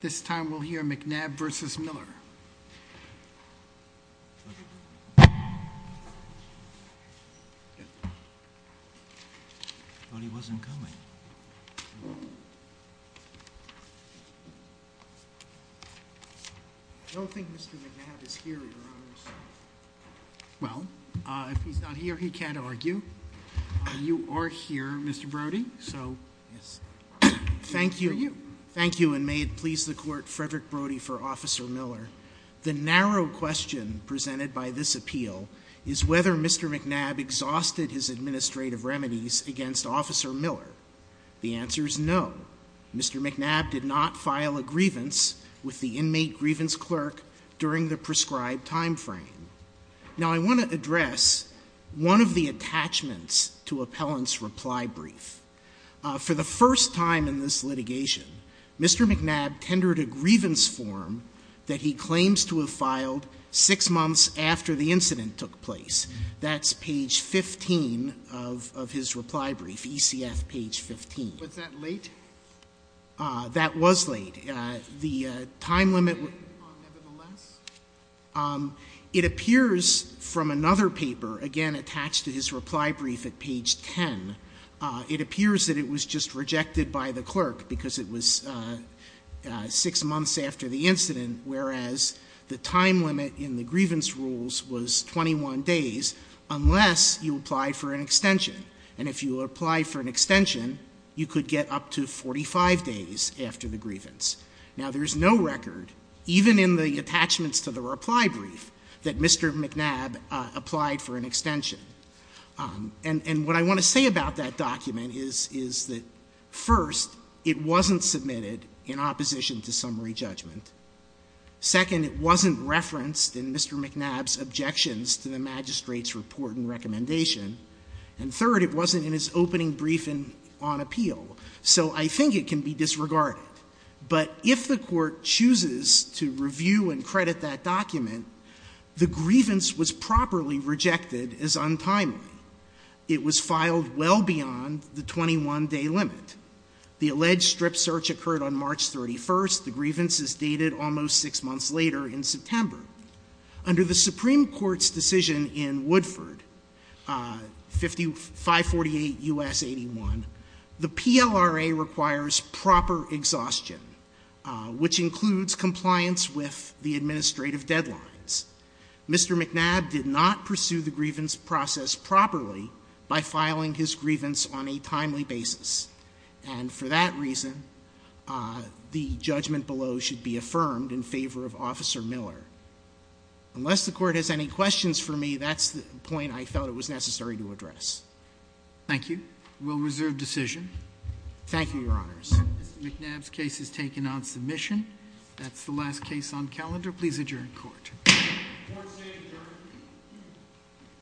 This time we'll hear McNab v. Miller. I thought he wasn't coming. I don't think Mr. McNab is here, Your Honor. Well, if he's not here, he can't argue. You are here, Mr. Brody, so... Yes. Thank you. Thank you, and may it please the Court, Frederick Brody v. Officer Miller, the narrow question presented by this appeal is whether Mr. McNab exhausted his administrative remedies against Officer Miller. The answer is no. Mr. McNab did not file a grievance with the inmate grievance clerk during the prescribed time frame. Now I want to address one of the attachments to Appellant's reply brief. For the first time in this litigation, Mr. McNab tendered a grievance form that he claims to have filed six months after the incident took place. That's page 15 of his reply brief, ECF page 15. Was that late? That was late. The time limit... Nevertheless? It appears from another paper, again attached to his reply brief at page 10, it appears that it was just rejected by the clerk because it was six months after the incident, whereas the time limit in the grievance rules was 21 days, unless you applied for an extension. And if you applied for an extension, you could get up to 45 days after the grievance. Now there's no record, even in the attachments to the reply brief, that Mr. McNab applied for an extension. And what I want to say about that document is that first, it wasn't submitted in opposition to summary judgment. Second, it wasn't referenced in Mr. McNab's objections to the magistrate's report and recommendation. And third, it wasn't in his opening briefing on appeal. So I think it can be disregarded. But if the Court chooses to review and credit that document, the grievance was properly rejected as untimely. It was filed well beyond the 21-day limit. The alleged strip search occurred on March 31. The grievance is dated almost six months later in September. Under the Supreme Court's decision in Woodford, 548 U.S. 81, the PLRA requires proper exhaustion, which includes compliance with the administrative deadlines. Mr. McNab did not pursue the grievance process properly by filing his grievance on a timely basis. And for that reason, the judgment below should be affirmed in favor of Officer Miller. Unless the Court has any questions for me, that's the point I felt it was necessary to address. Thank you. We'll reserve decision. Thank you, Your Honors. Mr. McNab's case is taken on submission. That's the last case on calendar. Please adjourn court. Court is adjourned.